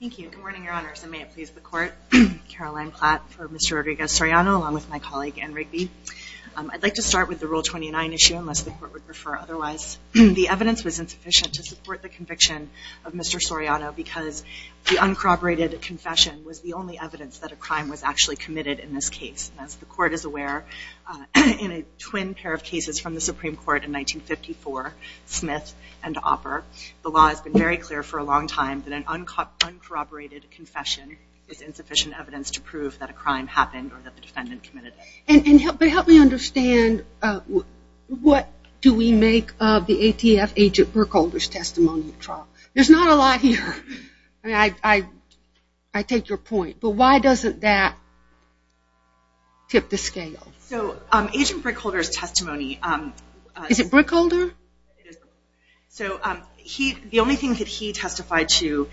Thank you. Good morning, Your Honors, and may it please the Court. Caroline Platt for Mr. Rodriguez-Soriano along with my colleague Ann Rigby. I'd like to start with the Rule 29 issue unless the Court would prefer otherwise. The evidence was insufficient to support the conviction of Mr. Soriano because the uncorroborated confession was the only evidence that a crime was actually committed in this case. As the Court is aware, in a twin pair of cases from the Supreme Court in 1954, Smith and Opper, the law has been very clear for a long time that an uncorroborated confession is insufficient evidence to prove that a crime happened or that the defendant committed it. But help me understand what do we make of the ATF Agent Brickholder's testimony at trial? There's not a lot here. I mean, I take your point, but why doesn't that tip the scale? So Agent Brickholder's testimony? So the only thing that he testified to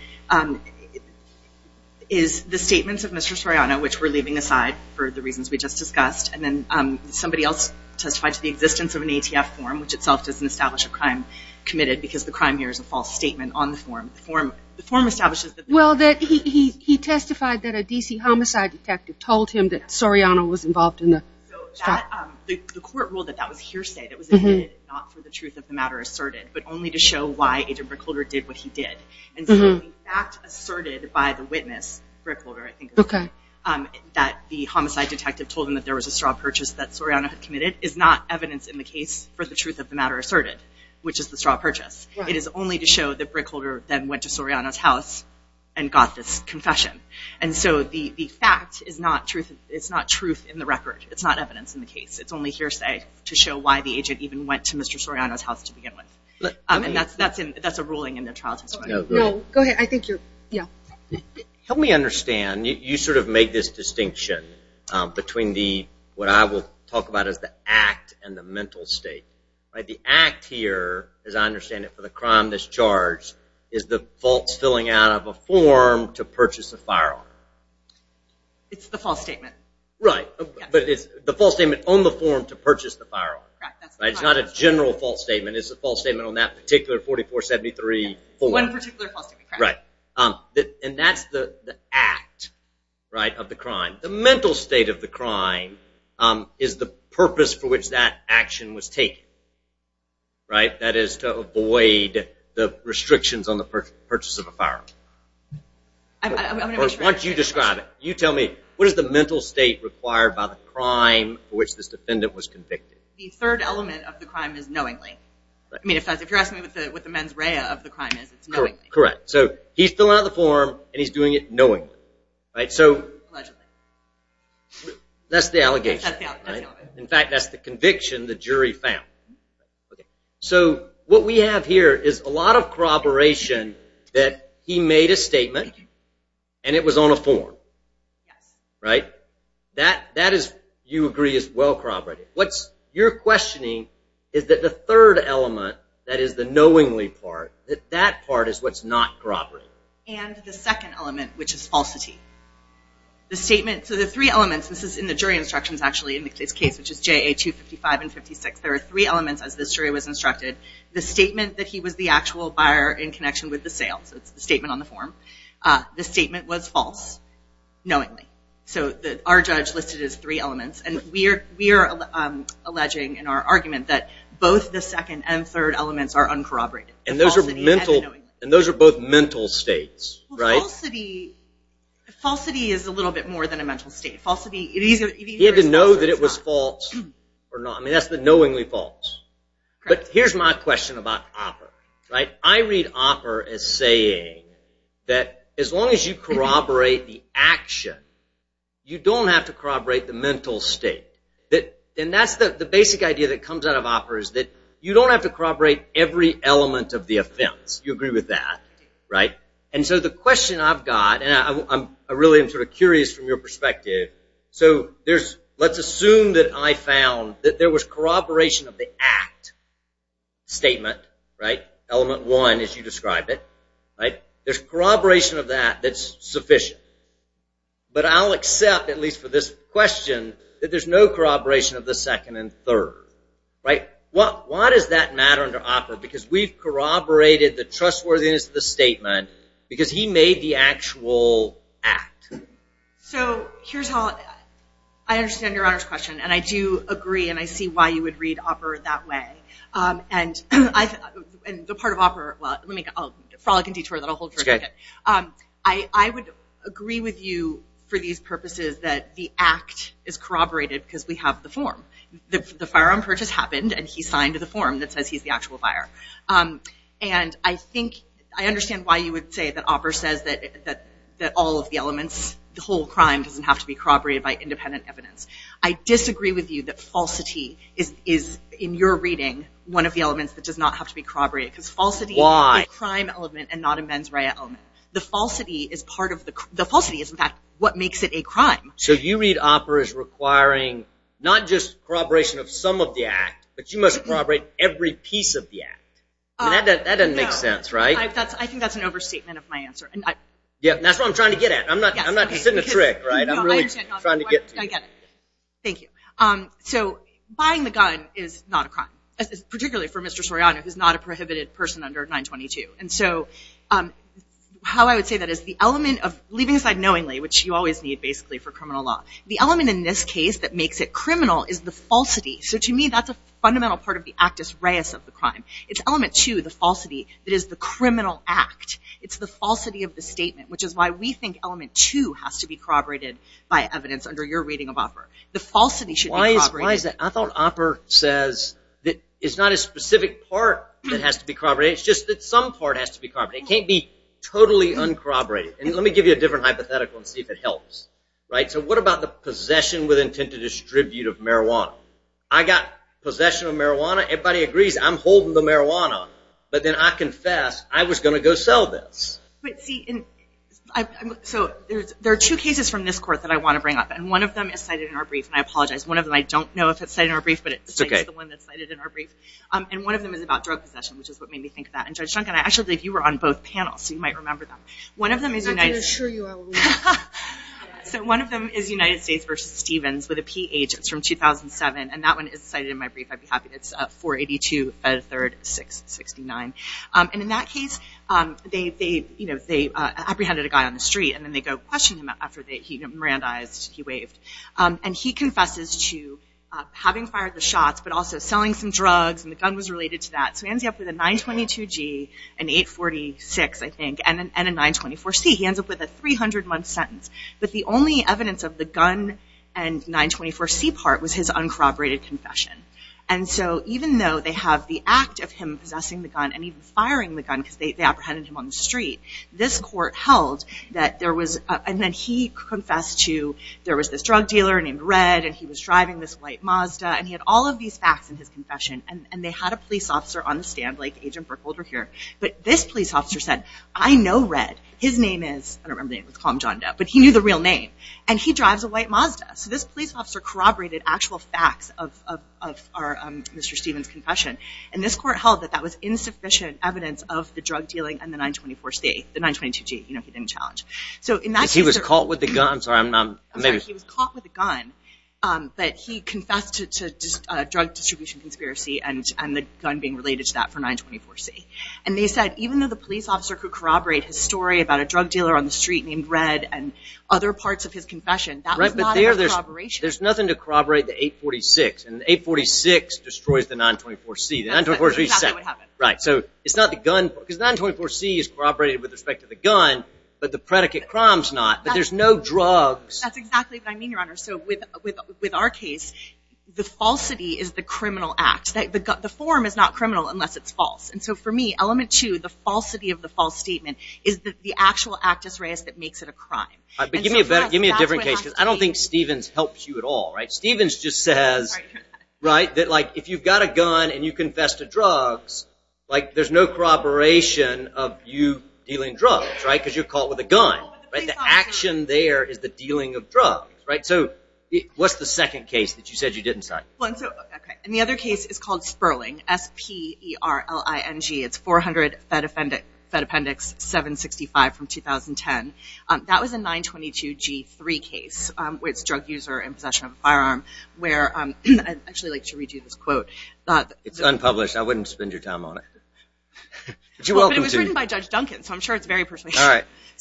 is the statements of Mr. Soriano, which we're leaving aside for the reasons we just discussed, and then somebody else testified to the existence of an ATF form, which itself doesn't establish a crime committed because the crime here is a false statement on the form. The form establishes... Well, he testified that a DC homicide detective told him that Soriano was involved in the... The Court ruled that that was hearsay. It was a hint not for the truth of the matter asserted, but only to show why Agent Brickholder did what he did. And so the fact asserted by the witness, Brickholder, I think it was, that the homicide detective told him that there was a straw purchase that Soriano had committed is not evidence in the case for the truth of the matter asserted, which is the straw purchase. It is only to show that Brickholder then went to Soriano's house and got this confession. And so the fact is not truth of the matter asserted. It's not truth in the record. It's not evidence in the case. It's only hearsay to show why the agent even went to Mr. Soriano's house to begin with. And that's a ruling in the trial testimony. No, go ahead. I think you're... Yeah. Help me understand. You sort of made this distinction between what I will talk about as the act and the mental state. The act here, as I understand it, for the crime that's charged, is the false filling out of a form to purchase a firearm. It's the false statement. Right. But it's the false statement on the form to purchase the firearm. Right. It's not a general false statement. It's a false statement on that particular 4473 form. One particular false statement. Right. And that's the act, right, of the crime. The mental state of the crime is the purpose for which that action was taken. Right? That is to avoid the restrictions on the purchase of a firearm. I want you to describe it. You tell me. What is the mental state required by the crime for which this defendant was convicted? The third element of the crime is knowingly. I mean, if you're asking me what the mens rea of the crime is, it's knowingly. Correct. So he's filling out the form and he's doing it knowingly. Right. So... Allegedly. That's the allegation. That's the allegation. In fact, that's the conviction the jury found. So what we have here is a lot of corroboration that he made a statement and it was on a form. Right. That is, you agree, is well corroborated. What you're questioning is that the third element, that is the knowingly part, that that part is what's not corroborated. And the second element, which is falsity. The statement, so the three elements, this is in the jury instructions actually in this case, which is JA 255 and 56, there are three elements as this jury was instructed. The statement that he was the actual buyer in connection with the sale, so it's the statement on the form. The statement was false, knowingly. So our judge listed his three elements and we are alleging in our argument that both the second and third elements are uncorroborated. And those are both mental states. Right. Falsity is a little bit more than a mental state. Falsity... He had to know that it was false or not. I mean, that's the knowingly false. But here's my question about OPPER. Right. I read OPPER as saying that as long as you corroborate the action, you don't have to corroborate the mental state. And that's the basic idea that comes out of OPPER is that you don't have to corroborate every element of the offense. You agree with that. Right. And so the question I've got, and I really am sort of curious from your perspective. So there's, let's assume that I found that there was corroboration of the act statement. Right. Element one, as you describe it. Right. There's corroboration of that that's sufficient. But I'll accept, at least for this question, that there's no corroboration of the second and third. Right. Why does that matter under OPPER? Because we've corroborated the trustworthiness of the statement because he made the actual act. So here's how I understand your Honor's question. And I do agree. And I see why you would read OPPER that way. And the part of OPPER, well, let me, a frolic and detour that I'll hold for a second. I would agree with you for these purposes that the act is corroborated because we have the form. The firearm purchase happened and he signed the form that says he's the actual fire. And I think, I understand why you would say that OPPER says that all of the elements, the whole crime doesn't have to be corroborated by independent evidence. I disagree with you that falsity is, in your reading, one of the elements that does not have to be corroborated because falsity is a crime element and not a mens rea element. The falsity is part of the, the falsity is in fact what makes it a crime. So you read OPPER as requiring not just corroboration of some of the act, but you must corroborate every piece of the act. That doesn't make sense, right? I think that's an overstatement of my answer. That's what I'm trying to get at. I'm not sitting a trick, right? I'm really trying to get to you. Thank you. So buying the gun is not a crime, particularly for Mr. Soriano, who's not a prohibited person under 922. And so how I would say that is the element of leaving aside knowingly, which you always need basically for criminal law, the element in this case that makes it criminal is the falsity. So to me, that's a fundamental part of the actus reus of the crime. It's element two, the falsity, that is the criminal act. It's the falsity of the statement, which is why we think element two has to be corroborated by evidence under your reading of OPPER. The falsity should be corroborated. Why is that? I thought OPPER says that it's not a specific part that has to be corroborated. It's just that some part has to be corroborated. It can't be totally uncorroborated. And let me give you a different hypothetical and see if it helps, right? So what about the possession with intent to distribute of marijuana? I got possession of marijuana. Everybody agrees I'm holding the marijuana. But then I confess I was going to go sell this. But see, so there are two cases from this court that I want to bring up. And one of them is cited in our brief, and I apologize. One of them I don't know if it's cited in our brief, but it's the one that's cited in our brief. And one of them is about drug possession, which is what made me think of that. And Judge Duncan, I actually believe you were on both panels, so you might remember them. I can assure you I will. So one of them is United States v. Stevens with a P-H. It's from 2007, and that one is cited in my brief. I'd be happy. It's 482-3-669. And in that case, they apprehended a guy on the street, and then they go question him after he Mirandized, he waved. And he confesses to having fired the shots, but also selling some drugs, and the gun was related to that. So he ends up with a 922-G, an 846, I think, and a 924-C. He ends up with a 300-month sentence. But the only evidence of the gun and 924-C part was his uncorroborated confession. And so even though they have the act of him possessing the gun, and even firing the gun because they apprehended him on the street, this court held that there was... And then he confessed to there was this drug dealer named Red, and he was driving this white Mazda, and he had all of these facts in his confession. And they had a police officer on the stand, like Agent Brooke Holder here. But this police officer said, I know Red. His name is, I don't remember his name, let's call him John Depp, but he knew the real name. And he drives a white Mazda. So this police officer corroborated actual facts of Mr. Stevens' confession. And this court held that that was insufficient evidence of the drug dealing and the 924-C, the 922-G he didn't challenge. So in that case... He was caught with the gun. I'm sorry, I'm not... He was caught with the gun, but he confessed to drug distribution conspiracy and the gun being related to that for 924-C. And they said even though the police officer could corroborate his story about a drug dealer on the street named Red and other parts of his confession, that was not a corroboration. There's nothing to corroborate the 846. And the 846 destroys the 924-C. Exactly what happened. Right. So it's not the gun... Because the 924-C is corroborated with respect to the gun, But there's no drugs. That's exactly what I mean, Your Honor. So with our case, the falsity is the criminal act. The form is not criminal unless it's false. And so for me, element two, the falsity of the false statement is that the actual act is raised that makes it a crime. But give me a different case because I don't think Stevens helps you at all. Stevens just says that if you've got a gun and you confess to drugs, there's no corroboration of you dealing drugs because you're caught with a gun. The action there is the dealing of drugs. So what's the second case that you said you didn't cite? The other case is called Sperling, S-P-E-R-L-I-N-G. It's 400 Fed Appendix 765 from 2010. That was a 922-G3 case where it's a drug user in possession of a firearm. I'd actually like to read you this quote. It's unpublished. I wouldn't spend your time on it. But it was written by Judge Duncan, so I'm sure it's very persuasive.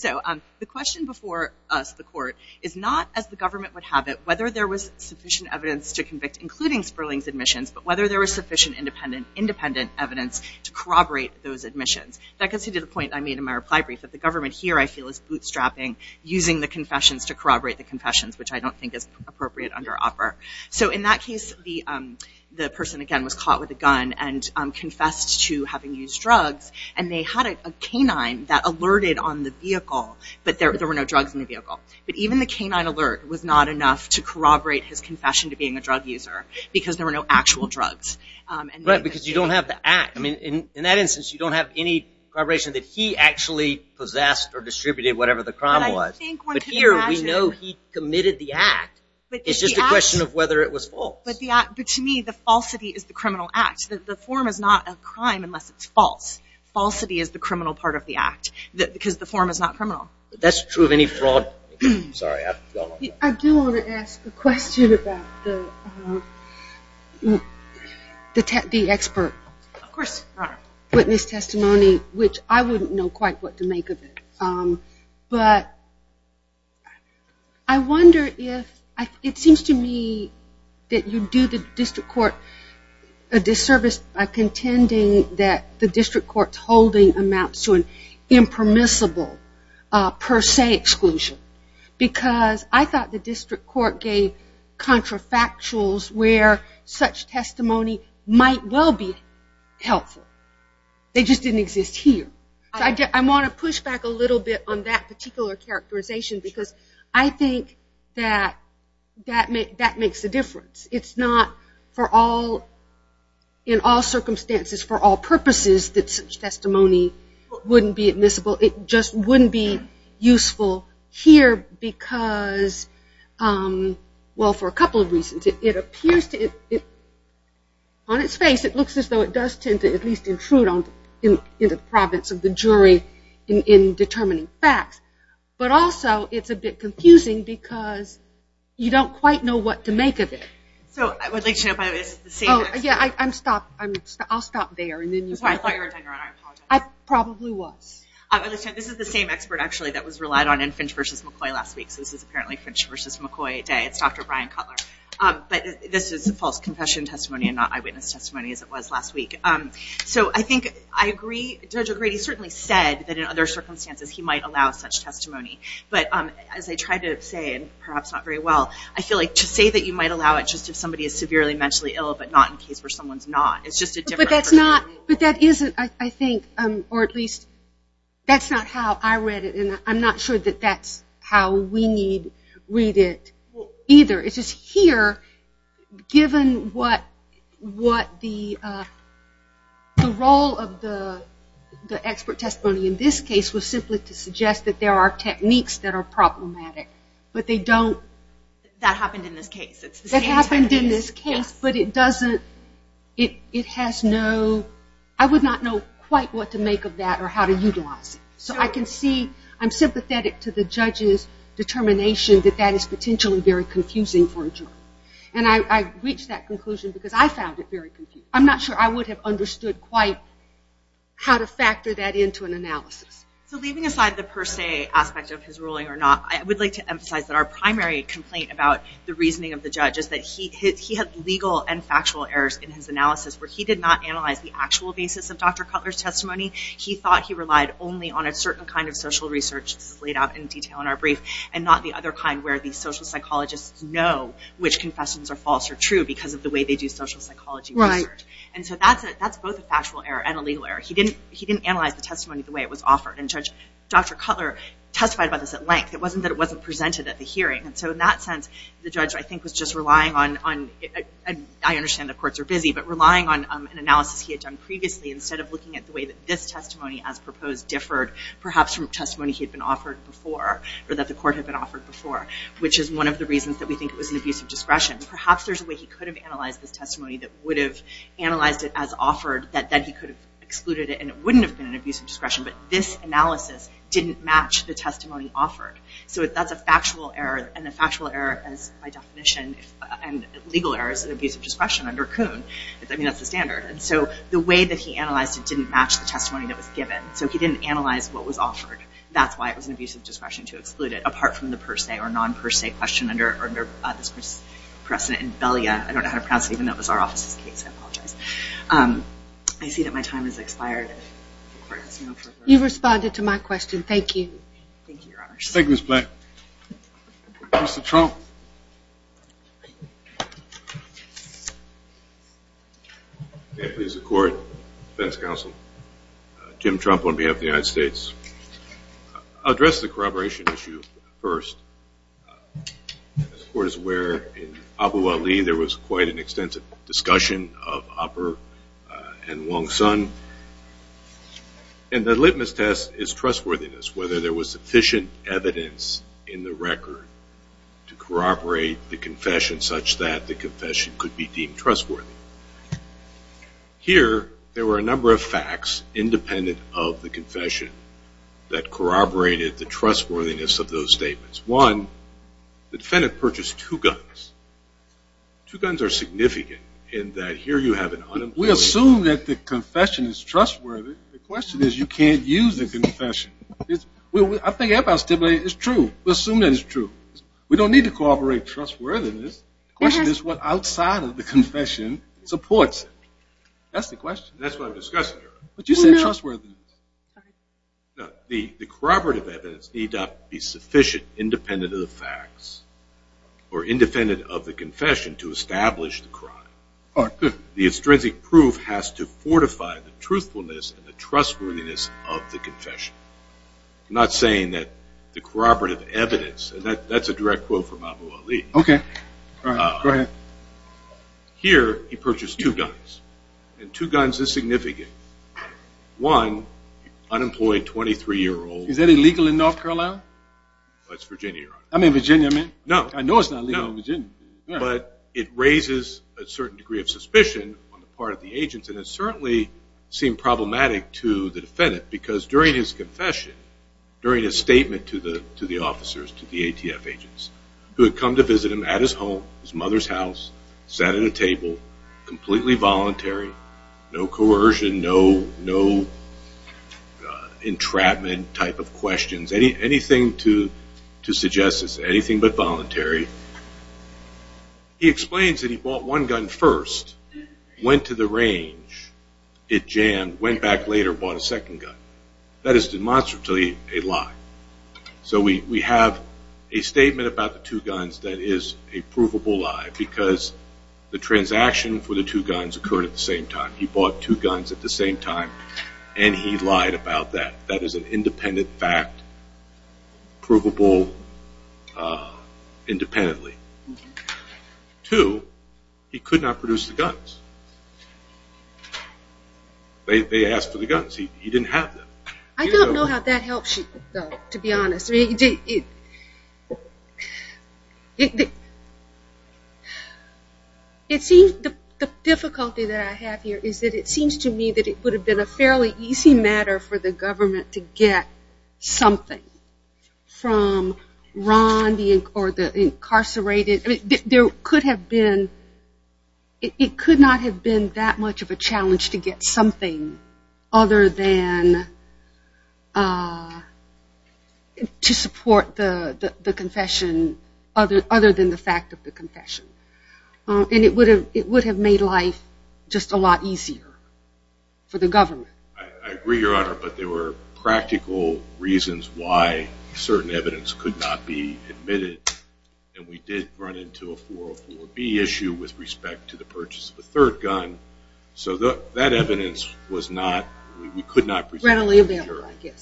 The question before us, the court, is not, as the government would have it, whether there was sufficient evidence to convict, including Sperling's admissions, but whether there was sufficient independent evidence to corroborate those admissions. That gets me to the point I made in my reply brief that the government here, I feel, is bootstrapping, using the confessions to corroborate the confessions, which I don't think is appropriate under offer. So in that case, the person, again, was caught with a gun and confessed to having used drugs, and they had a canine that alerted on the vehicle, but there were no drugs in the vehicle. But even the canine alert was not enough to corroborate his confession to being a drug user because there were no actual drugs. Right, because you don't have the act. In that instance, you don't have any corroboration that he actually possessed or distributed whatever the crime was. But here, we know he committed the act. It's just a question of whether it was false. But to me, the falsity is the criminal act. The form is not a crime unless it's false. Falsity is the criminal part of the act because the form is not criminal. That's true of any fraud. I do want to ask a question about the expert witness testimony, which I wouldn't know quite what to make of it. But I wonder if... It seems to me that you do the district court a disservice by contending that the district court's holding amounts to an impermissible per se exclusion because I thought the district court gave contrafactuals where such testimony might well be helpful. They just didn't exist here. I want to push back a little bit on that particular characterization because I think that that makes a difference. It's not, in all circumstances, for all purposes, that such testimony wouldn't be admissible. It just wouldn't be useful here because, well, for a couple of reasons. It appears to... On its face, it looks as though it does tend to at least intrude in the province of the jury in determining facts. But also, it's a bit confusing because you don't quite know what to make of it. I would like to know if I was the same expert. I'll stop there. I thought you were done, Your Honor. I apologize. I probably was. This is the same expert that was relied on in Finch v. McCoy last week. This is apparently Finch v. McCoy day. It's Dr. Brian Cutler. But this is a false confession testimony and not eyewitness testimony as it was last week. So I think I agree. Judge O'Grady certainly said that in other circumstances he might allow such testimony. But as I tried to say, and perhaps not very well, I feel like to say that you might allow it just if somebody is severely mentally ill but not in case where someone's not. But that isn't, I think, or at least that's not how I read it, and I'm not sure that that's how we need read it either. It's just here, given what the role of the expert testimony in this case was simply to suggest that there are techniques that are problematic, but they don't... That happened in this case. That happened in this case, but it doesn't... It has no... I would not know quite what to make of that or how to utilize it. So I can see I'm sympathetic to the judge's determination that that is potentially very confusing for a jury. And I've reached that conclusion because I found it very confusing. I'm not sure I would have understood quite how to factor that into an analysis. So leaving aside the per se aspect of his ruling or not, I would like to emphasize that our primary complaint about the reasoning of the judge is that he had legal and factual errors in his analysis where he did not analyze the actual basis of Dr. Cutler's testimony. He thought he relied only on a certain kind of social research, which is laid out in detail in our brief, and not the other kind where the social psychologists know which confessions are false or true because of the way they do social psychology research. And so that's both a factual error and a legal error. He didn't analyze the testimony the way it was offered. And Dr. Cutler testified about this at length. It wasn't that it wasn't presented at the hearing. And so in that sense, the judge, I think, was just relying on... I understand the courts are busy, but relying on an analysis he had done previously instead of looking at the way that this testimony, as proposed, differed, perhaps from testimony he had been offered before, or that the court had been offered before, which is one of the reasons that we think it was an abusive discretion. Perhaps there's a way he could have analyzed this testimony that would have analyzed it as offered, that then he could have excluded it, and it wouldn't have been an abusive discretion. But this analysis didn't match the testimony offered. So that's a factual error, and a factual error, by definition, and legal error is an abusive discretion under Kuhn. I mean, that's the standard. And so the way that he analyzed it didn't match the testimony that was given. So he didn't analyze what was offered. That's why it was an abusive discretion to exclude it, apart from the per se or non-per se question under this precedent in Belia. I don't know how to pronounce it, even though it was our office's case. I apologize. I see that my time has expired. You've responded to my question. Thank you. Thank you, Your Honor. Thank you, Ms. Black. Mr. Trump. Thank you. May it please the Court, Defense Counsel, Jim Trump on behalf of the United States. I'll address the corroboration issue first. As the Court is aware, in Abu Ali, there was quite an extensive discussion of Abur and Wong Sun. And the litmus test is trustworthiness, whether there was sufficient evidence in the record to corroborate the confession such that the confession could be deemed trustworthy. Here, there were a number of facts independent of the confession that corroborated the trustworthiness of those statements. One, the defendant purchased two guns. Two guns are significant in that here you have an unemployment. We assume that the confession is trustworthy. The question is you can't use the confession. I think what Abbott stipulated is true. We assume that it's true. We don't need to corroborate trustworthiness. The question is what outside of the confession supports it. That's the question. That's what I'm discussing here. But you said trustworthiness. The corroborative evidence need not be sufficient independent of the facts or independent of the confession to establish the crime. The extrinsic proof has to fortify the truthfulness and the trustworthiness of the confession. I'm not saying that the corroborative evidence, and that's a direct quote from Abu Ali. Okay. Go ahead. Here, he purchased two guns, and two guns is significant. One, unemployed 23-year-old. Is that illegal in North Carolina? That's Virginia, Your Honor. I mean Virginia, I mean. No. I know it's not legal in Virginia. But it raises a certain degree of suspicion on the part of the agents, and it certainly seemed problematic to the defendant because during his confession, during his statement to the officers, to the ATF agents, who had come to visit him at his home, his mother's house, sat at a table, completely voluntary, no coercion, no entrapment type of questions, anything to suggest it's anything but voluntary. He explains that he bought one gun first, went to the range, it jammed, went back later, bought a second gun. That is demonstrably a lie. So we have a statement about the two guns that is a provable lie because the transaction for the two guns occurred at the same time. He bought two guns at the same time, and he lied about that. That is an independent fact, provable independently. Two, he could not produce the guns. They asked for the guns. He didn't have them. I don't know how that helps you, though, to be honest. The difficulty that I have here is that it seems to me that it would have been a fairly easy matter for the government to get something from Ron being incarcerated. I mean, there could have been, it could not have been that much of a challenge to get something other than to support the confession, other than the fact of the confession. And it would have made life just a lot easier for the government. I agree, Your Honor, but there were practical reasons why certain evidence could not be admitted, and we did run into a 404B issue with respect to the purchase of a third gun. So that evidence was not, we could not present it.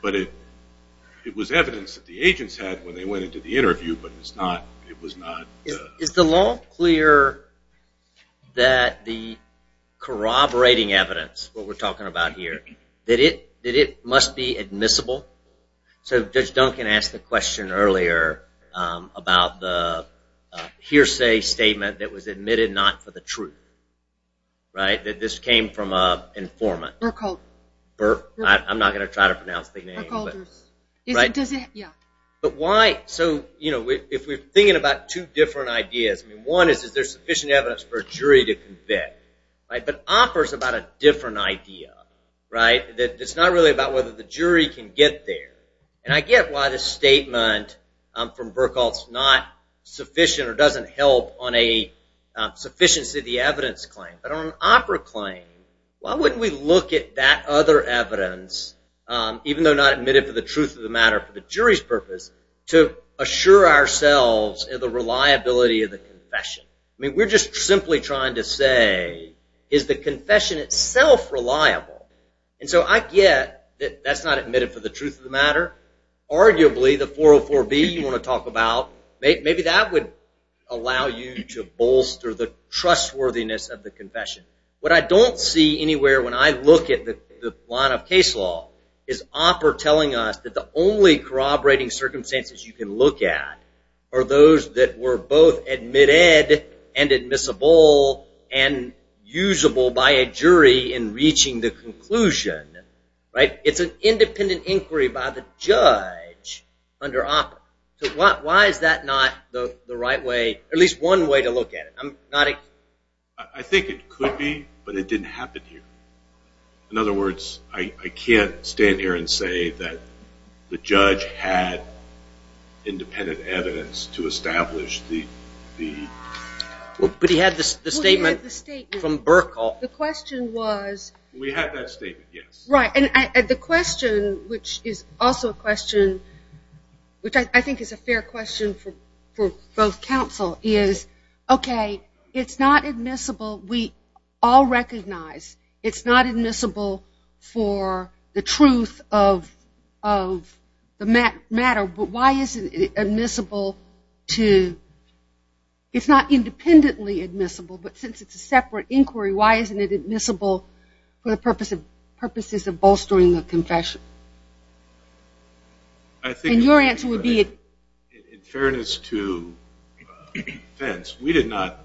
But it was evidence that the agents had when they went into the interview, but it was not. Is the law clear that the corroborating evidence, what we're talking about here, that it must be admissible? So Judge Duncan asked the question earlier about the hearsay statement that was admitted not for the truth, right, that this came from an informant. Burkholder. Burkholder. I'm not going to try to pronounce the name. Burkholder. Yeah. So if we're thinking about two different ideas, one is, is there sufficient evidence for a jury to convict? But OPER is about a different idea, right? It's not really about whether the jury can get there. And I get why the statement from Burkholder is not sufficient or doesn't help on a sufficiency of the evidence claim. But on an OPER claim, why wouldn't we look at that other evidence, even though not admitted for the truth of the matter for the jury's purpose, to assure ourselves of the reliability of the confession? I mean, we're just simply trying to say, is the confession itself reliable? And so I get that that's not admitted for the truth of the matter. Arguably, the 404B you want to talk about, maybe that would allow you to bolster the trustworthiness of the confession. What I don't see anywhere, when I look at the line of case law, is OPER telling us that the only corroborating circumstances you can look at are those that were both admitted and admissible and usable by a jury in reaching the conclusion, right? It's an independent inquiry by the judge under OPER. So why is that not the right way, or at least one way to look at it? I think it could be, but it didn't happen here. In other words, I can't stand here and say that the judge had independent evidence to establish the... But he had the statement from Burkle. The question was... We had that statement, yes. Right, and the question, which is also a question, which I think is a fair question for both counsel, is, okay, it's not admissible. We all recognize it's not admissible for the truth of the matter, but why isn't it admissible to... It's not independently admissible, but since it's a separate inquiry, why isn't it admissible for the purposes of bolstering the confession? And your answer would be... In fairness to defense, we did not...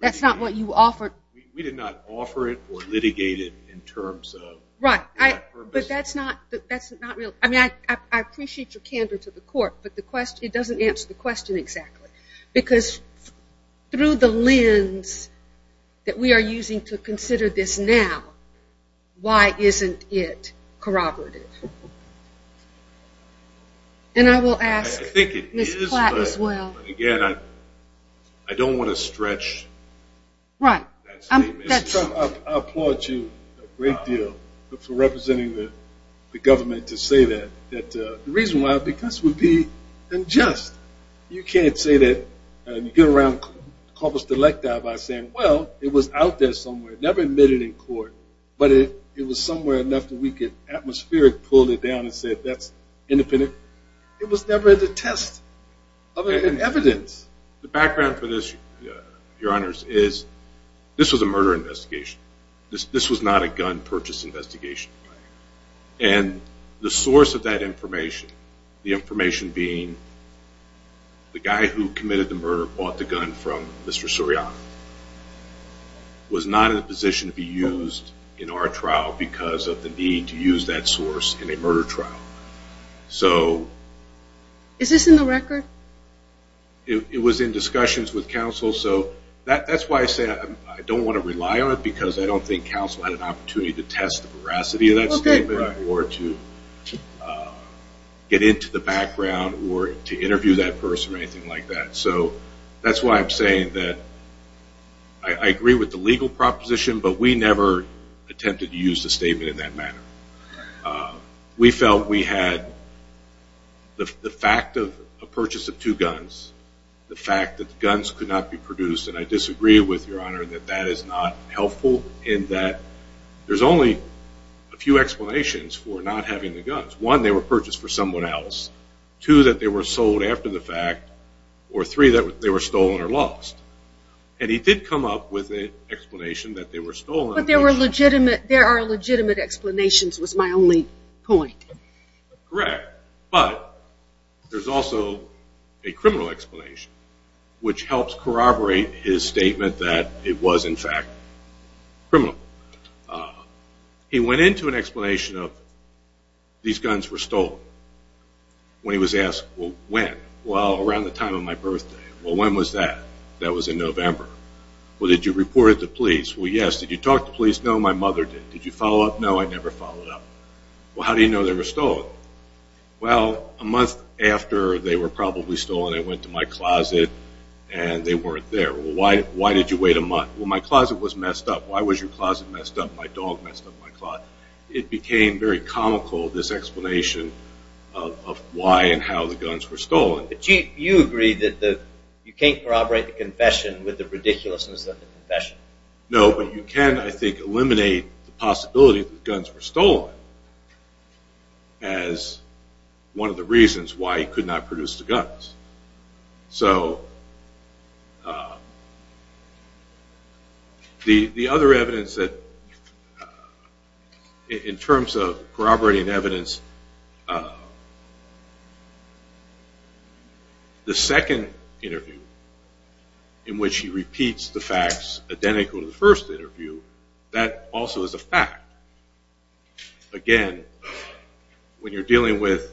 That's not what you offered. We did not offer it or litigate it in terms of... Right, but that's not real. I mean, I appreciate your candor to the court, but it doesn't answer the question exactly, because through the lens that we are using to consider this now, why isn't it corroborative? And I will ask Ms. Platt as well. Again, I don't want to stretch that statement. I applaud you a great deal for representing the government to say that. The reason why, because it would be unjust. You can't say that and get around corpus delecta by saying, well, it was out there somewhere, never admitted in court, but it was somewhere enough that we could atmospherically pull it down and say that's independent. It was never the test of evidence. The background for this, Your Honors, is this was a murder investigation. This was not a gun purchase investigation. And the source of that information, the information being the guy who committed the murder bought the gun from Mr. Suriano, was not in a position to be used in our trial because of the need to use that source in a murder trial. Is this in the record? It was in discussions with counsel. So that's why I say I don't want to rely on it, because I don't think counsel had an opportunity to test the veracity of that statement or to get into the background or to interview that person or anything like that. So that's why I'm saying that I agree with the legal proposition, but we never attempted to use the statement in that manner. We felt we had the fact of a purchase of two guns, the fact that the guns could not be produced, and I disagree with Your Honor that that is not helpful in that there's only a few explanations for not having the guns. One, they were purchased for someone else. Two, that they were sold after the fact. Or three, that they were stolen or lost. And he did come up with an explanation that they were stolen. But there are legitimate explanations was my only point. Correct. But there's also a criminal explanation, which helps corroborate his statement that it was, in fact, criminal. He went into an explanation of these guns were stolen. When he was asked, well, when? Well, around the time of my birthday. Well, when was that? That was in November. Well, did you report it to police? Well, yes. Did you talk to police? No, my mother didn't. Did you follow up? No, I never followed up. Well, how do you know they were stolen? Well, a month after they were probably stolen, they went to my closet and they weren't there. Well, why did you wait a month? Well, my closet was messed up. Why was your closet messed up? My dog messed up my closet. It became very comical, this explanation of why and how the guns were stolen. But you agree that you can't corroborate the confession with the ridiculousness of the confession. No, but you can, I think, eliminate the possibility that the guns were stolen as one of the reasons why he could not produce the guns. So the other evidence that in terms of corroborating evidence, the second interview in which he repeats the facts identical to the first interview, that also is a fact. Again, when you're dealing with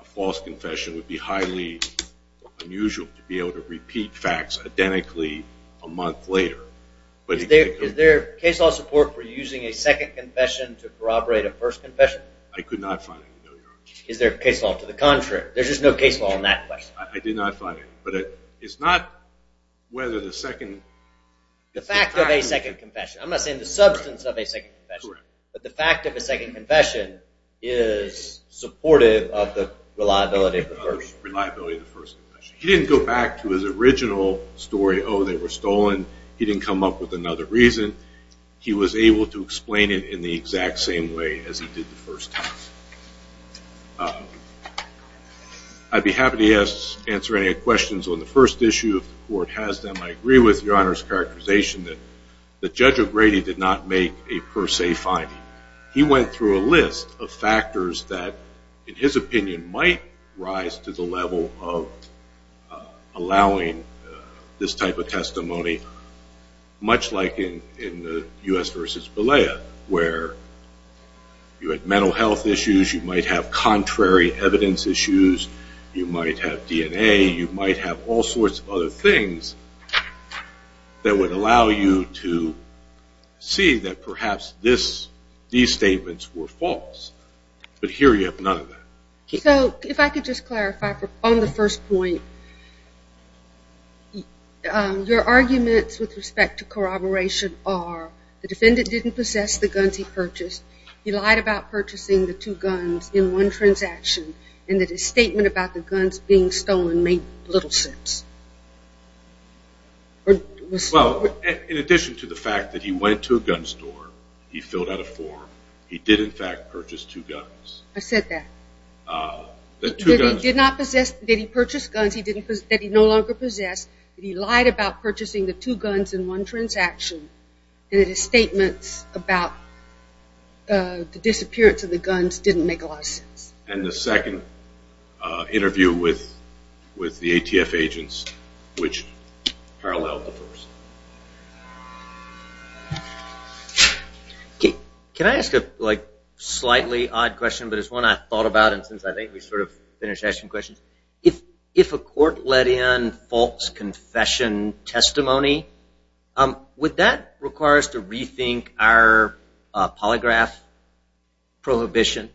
a false confession, it would be highly unusual to be able to repeat facts identically a month later. Is there case law support for using a second confession to corroborate a first confession? I could not find any, no, Your Honor. Is there case law to the contrary? There's just no case law on that question. I did not find any, but it's not whether the second confession The fact of a second confession. I'm not saying the substance of a second confession. But the fact of a second confession is supportive of the reliability of the first. Reliability of the first confession. He didn't go back to his original story, oh, they were stolen. He didn't come up with another reason. He was able to explain it in the exact same way as he did the first time. I'd be happy to answer any questions on the first issue if the Court has them. I agree with Your Honor's characterization that the Judge O'Grady did not make a per se finding. He went through a list of factors that, in his opinion, might rise to the level of allowing this type of testimony, much like in the U.S. v. Balea, where you had mental health issues, you might have contrary evidence issues, you might have DNA, you might have all sorts of other things that would allow you to see that perhaps these statements were false. But here you have none of that. So if I could just clarify on the first point, your arguments with respect to corroboration are, the defendant didn't possess the guns he purchased, he lied about purchasing the two guns in one transaction, and that his statement about the guns being stolen made little sense. Well, in addition to the fact that he went to a gun store, he filled out a form, he did in fact purchase two guns. I said that. He did not possess, did he purchase guns that he no longer possessed, he lied about purchasing the two guns in one transaction, and that his statements about the disappearance of the guns didn't make a lot of sense. And the second interview with the ATF agents, which paralleled the first. Can I ask a slightly odd question, but it's one I thought about and since I think we sort of finished asking questions. If a court let in false confession testimony, would that require us to rethink our polygraph prohibition?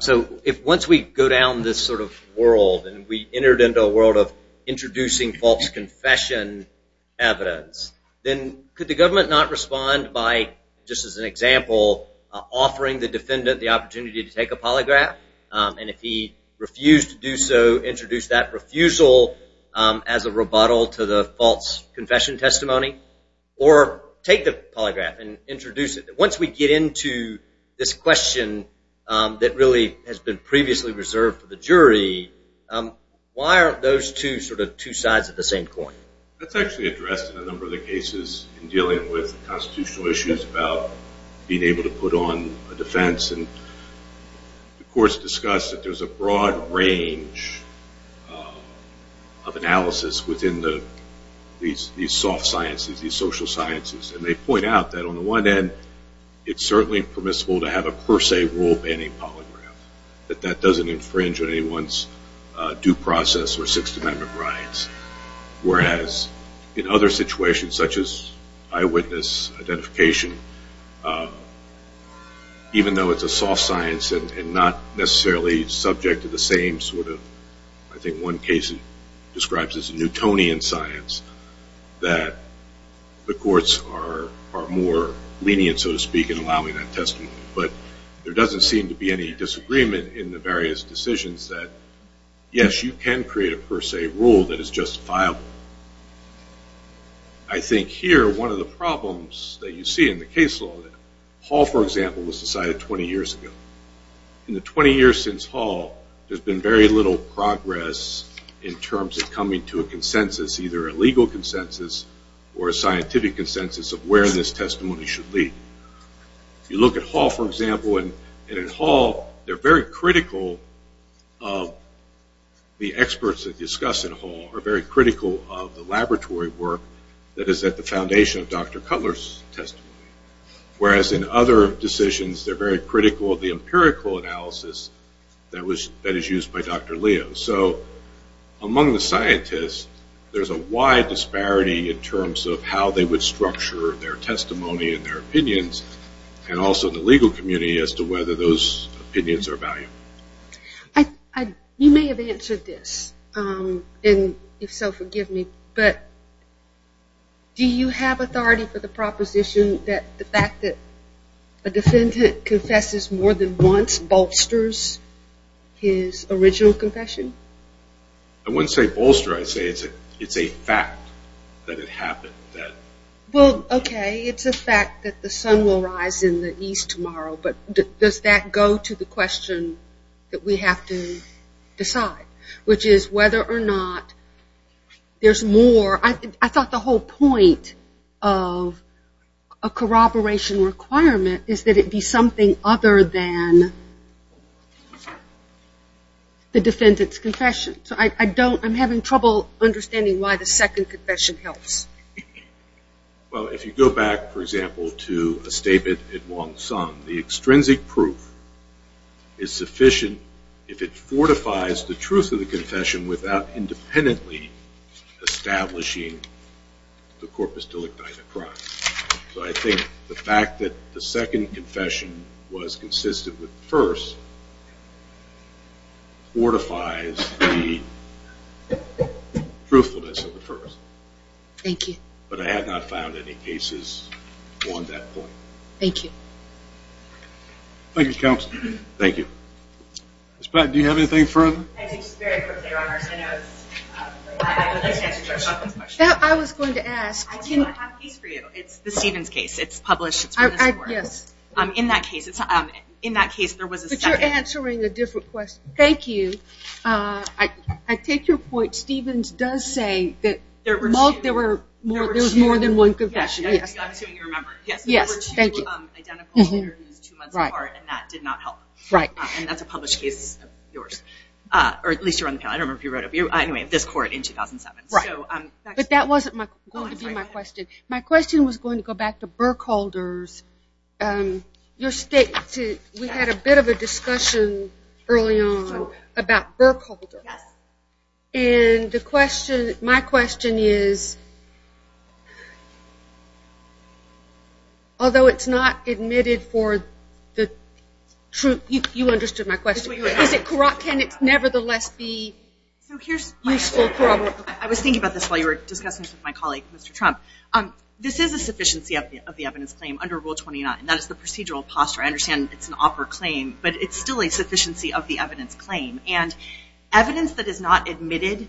So if once we go down this sort of world and we entered into a world of introducing false confession evidence, then could the government not respond by, just as an example, offering the defendant the opportunity to take a polygraph, and if he refused to do so, introduce that refusal as a rebuttal to the false confession testimony? Or take the polygraph and introduce it. Once we get into this question that really has been previously reserved for the jury, why aren't those two sort of two sides of the same coin? That's actually addressed in a number of the cases in dealing with constitutional issues about being able to put on a defense. And the courts discuss that there's a broad range of analysis within these soft sciences, these social sciences. And they point out that on the one end, it's certainly permissible to have a per se rule banning polygraph. That that doesn't infringe on anyone's due process or Sixth Amendment rights. Whereas in other situations, such as eyewitness identification, even though it's a soft science and not necessarily subject to the same sort of, I think one case describes it as Newtonian science, that the courts are more lenient, so to speak, in allowing that testimony. But there doesn't seem to be any disagreement in the various decisions that, yes, you can create a per se rule that is justifiable. I think here, one of the problems that you see in the case law, that Hall, for example, was decided 20 years ago. In the 20 years since Hall, there's been very little progress in terms of coming to a consensus, either a legal consensus or a scientific consensus of where this testimony should lead. You look at Hall, for example, and in Hall, they're very critical of the experts that discuss in Hall, are very critical of the laboratory work that is at the foundation of Dr. Cutler's testimony. Whereas in other decisions, they're very critical of the empirical analysis that is used by Dr. Leo. So among the scientists, there's a wide disparity in terms of how they would structure their testimony and their opinions, and also the legal community as to whether those opinions are valuable. You may have answered this, and if so, forgive me, but do you have authority for the proposition that the fact that a defendant confesses more than once bolsters his original confession? I wouldn't say bolster, I'd say it's a fact that it happened. Well, okay, it's a fact that the sun will rise in the east tomorrow, but does that go to the question that we have to decide? Which is whether or not there's more, I thought the whole point of a corroboration requirement is that it be something other than the defendant's confession. So I don't, I'm having trouble understanding why the second confession helps. Well, if you go back, for example, to a statement at Wong Sung, the extrinsic proof is sufficient if it fortifies the truth of the confession without independently establishing the corpus delicti the crime. So I think the fact that the second confession was consistent with the first fortifies the truthfulness of the first. Thank you. But I have not found any cases on that point. Thank you. Thank you, Counsel. Thank you. Ms. Patton, do you have anything further? Very quickly, Your Honors, I know it's, I would like to answer Judge Sutton's question. I was going to ask. I do have a case for you. It's the Stevens case. It's published. Yes. In that case, there was a second. You're answering a different question. Thank you. I take your point. Stevens does say that there was more than one confession. Yes. I'm assuming you remember. Yes. Thank you. There were two identical interviews two months apart, and that did not help. Right. And that's a published case of yours. Or at least you're on the panel. I don't remember if you wrote it. Anyway, this court in 2007. Right. But that wasn't going to be my question. My question was going to go back to Burkholder's. We had a bit of a discussion early on about Burkholder. Yes. And my question is, although it's not admitted for the truth. You understood my question. Can it nevertheless be useful? I was thinking about this while you were discussing this with my colleague, Mr. Trump. This is a sufficiency of the evidence claim under Rule 29. That is the procedural posture. I understand it's an opera claim, but it's still a sufficiency of the evidence claim. And evidence that is not admitted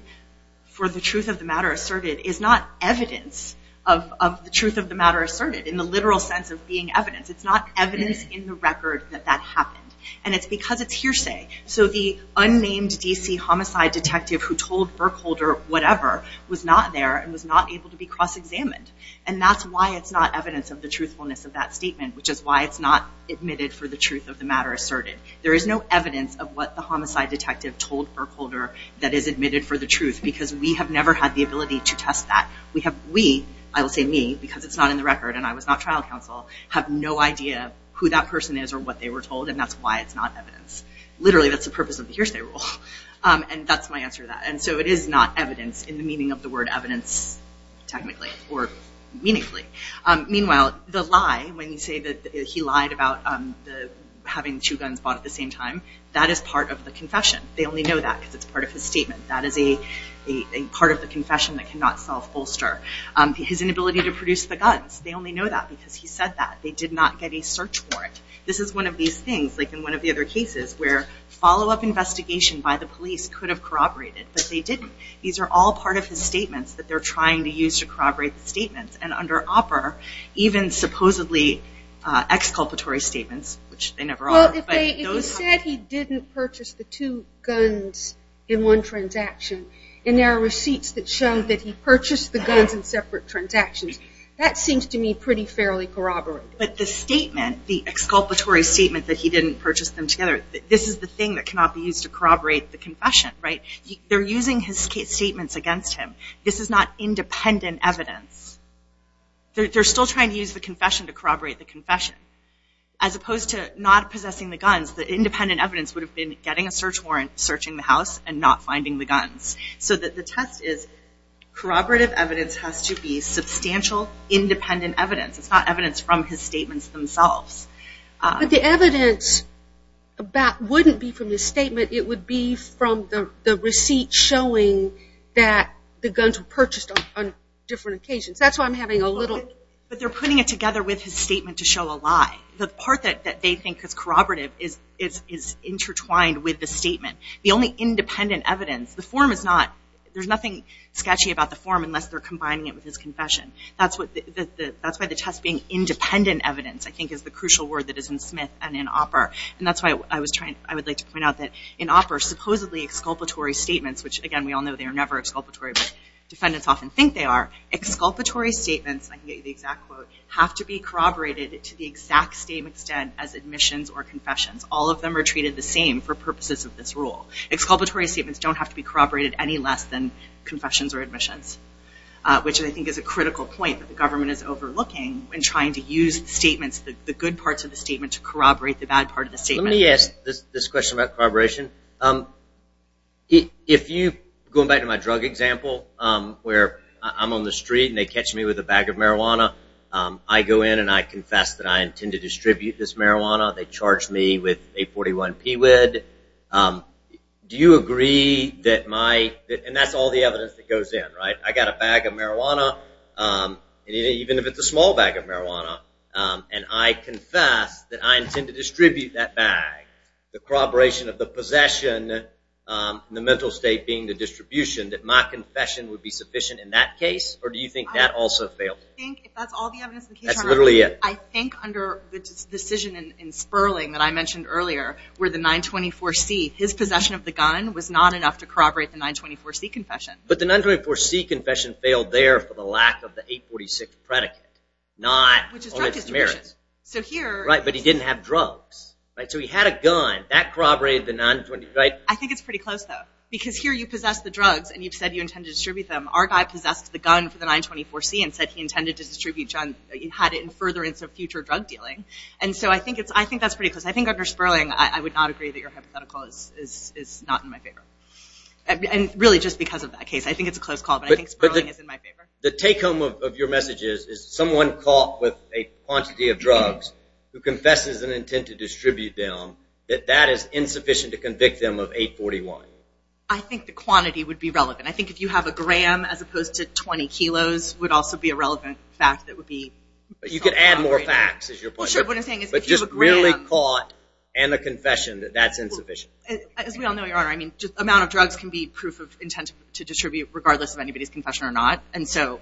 for the truth of the matter asserted is not evidence of the truth of the matter asserted in the literal sense of being evidence. It's not evidence in the record that that happened. And it's because it's hearsay. So the unnamed D.C. homicide detective who told Burkholder whatever was not there and was not able to be cross-examined. And that's why it's not evidence of the truthfulness of that statement, which is why it's not admitted for the truth of the matter asserted. There is no evidence of what the homicide detective told Burkholder that is admitted for the truth. Because we have never had the ability to test that. We, I will say me, because it's not in the record and I was not trial counsel, have no idea who that person is or what they were told. And that's why it's not evidence. Literally, that's the purpose of the hearsay rule. And that's my answer to that. And so it is not evidence in the meaning of the word evidence technically or meaningfully. Meanwhile, the lie, when you say that he lied about having two guns bought at the same time, that is part of the confession. They only know that because it's part of his statement. That is a part of the confession that cannot self-bolster. His inability to produce the guns, they only know that because he said that. They did not get a search warrant. This is one of these things, like in one of the other cases, where follow-up investigation by the police could have corroborated. But they didn't. These are all part of his statements that they're trying to use to corroborate the statements. And under OPER, even supposedly exculpatory statements, which they never are. Well, if he said he didn't purchase the two guns in one transaction, and there are receipts that show that he purchased the guns in separate transactions, that seems to me pretty fairly corroborated. But the statement, the exculpatory statement that he didn't purchase them together, this is the thing that cannot be used to corroborate the confession. They're using his statements against him. This is not independent evidence. They're still trying to use the confession to corroborate the confession. As opposed to not possessing the guns, the independent evidence would have been getting a search warrant, searching the house, and not finding the guns. So the test is, corroborative evidence has to be substantial, independent evidence. It's not evidence from his statements themselves. But the evidence wouldn't be from his statement. It would be from the receipt showing that the guns were purchased on different occasions. That's why I'm having a little... But they're putting it together with his statement to show a lie. The part that they think is corroborative is intertwined with the statement. The only independent evidence, the form is not, there's nothing sketchy about the form unless they're combining it with his confession. That's why the test being independent evidence, I think, is the crucial word that is in Smith and in Opper. And that's why I would like to point out that in Opper, supposedly exculpatory statements, which again, we all know they are never exculpatory, but defendants often think they are, exculpatory statements, I can get you the exact quote, have to be corroborated to the exact same extent as admissions or confessions. All of them are treated the same for purposes of this rule. Exculpatory statements don't have to be corroborated any less than confessions or admissions, which I think is a critical point that the government is overlooking in trying to use the statements, the good parts of the statement, to corroborate the bad part of the statement. Let me ask this question about corroboration. If you, going back to my drug example, where I'm on the street and they catch me with a bag of marijuana, I go in and I confess that I intend to distribute this marijuana, they charge me with 841 PWID, do you agree that my... and that's all the evidence that goes in, right? I got a bag of marijuana, even if it's a small bag of marijuana, and I confess that I intend to distribute that bag, the corroboration of the possession, the mental state being the distribution, that my confession would be sufficient in that case, or do you think that also failed? That's literally it. I think under the decision in Sperling that I mentioned earlier, where the 924C, his possession of the gun was not enough to corroborate the 924C confession. But the 924C confession failed there for the lack of the 846 predicate. Which is drug distribution. Right, but he didn't have drugs. So he had a gun, that corroborated the 924C. I think it's pretty close, though. Because here you possess the drugs and you've said you intend to distribute them. Our guy possessed the gun for the 924C and said he intended to distribute, he had it in furtherance of future drug dealing. And so I think that's pretty close. I think under Sperling I would not agree that your hypothetical is not in my favor. And really just because of that case. I think it's a close call, but I think Sperling is in my favor. The take-home of your message is someone caught with a quantity of drugs who confesses an intent to distribute them, that that is insufficient to convict them of 841. I think the quantity would be relevant. I think if you have a gram as opposed to 20 kilos, would also be a relevant fact that would be corroborated. You could add more facts. But just really caught and a confession, that's insufficient. As we all know, Your Honor, I mean, amount of drugs can be proof of intent to distribute regardless of anybody's confession or not. And so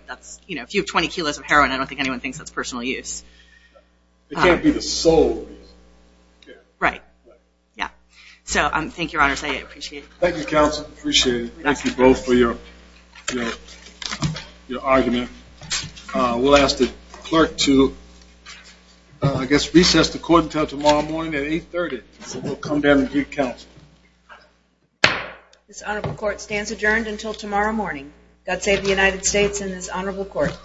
if you have 20 kilos of heroin, I don't think anyone thinks that's personal use. It can't be the sole use. Right. So thank you, Your Honor, I appreciate it. Thank you, counsel, appreciate it. Thank you both for your argument. We'll ask the clerk to, I guess, recess the court until tomorrow morning at 830. So we'll come down and greet counsel. This honorable court stands adjourned until tomorrow morning. God save the United States and this honorable court.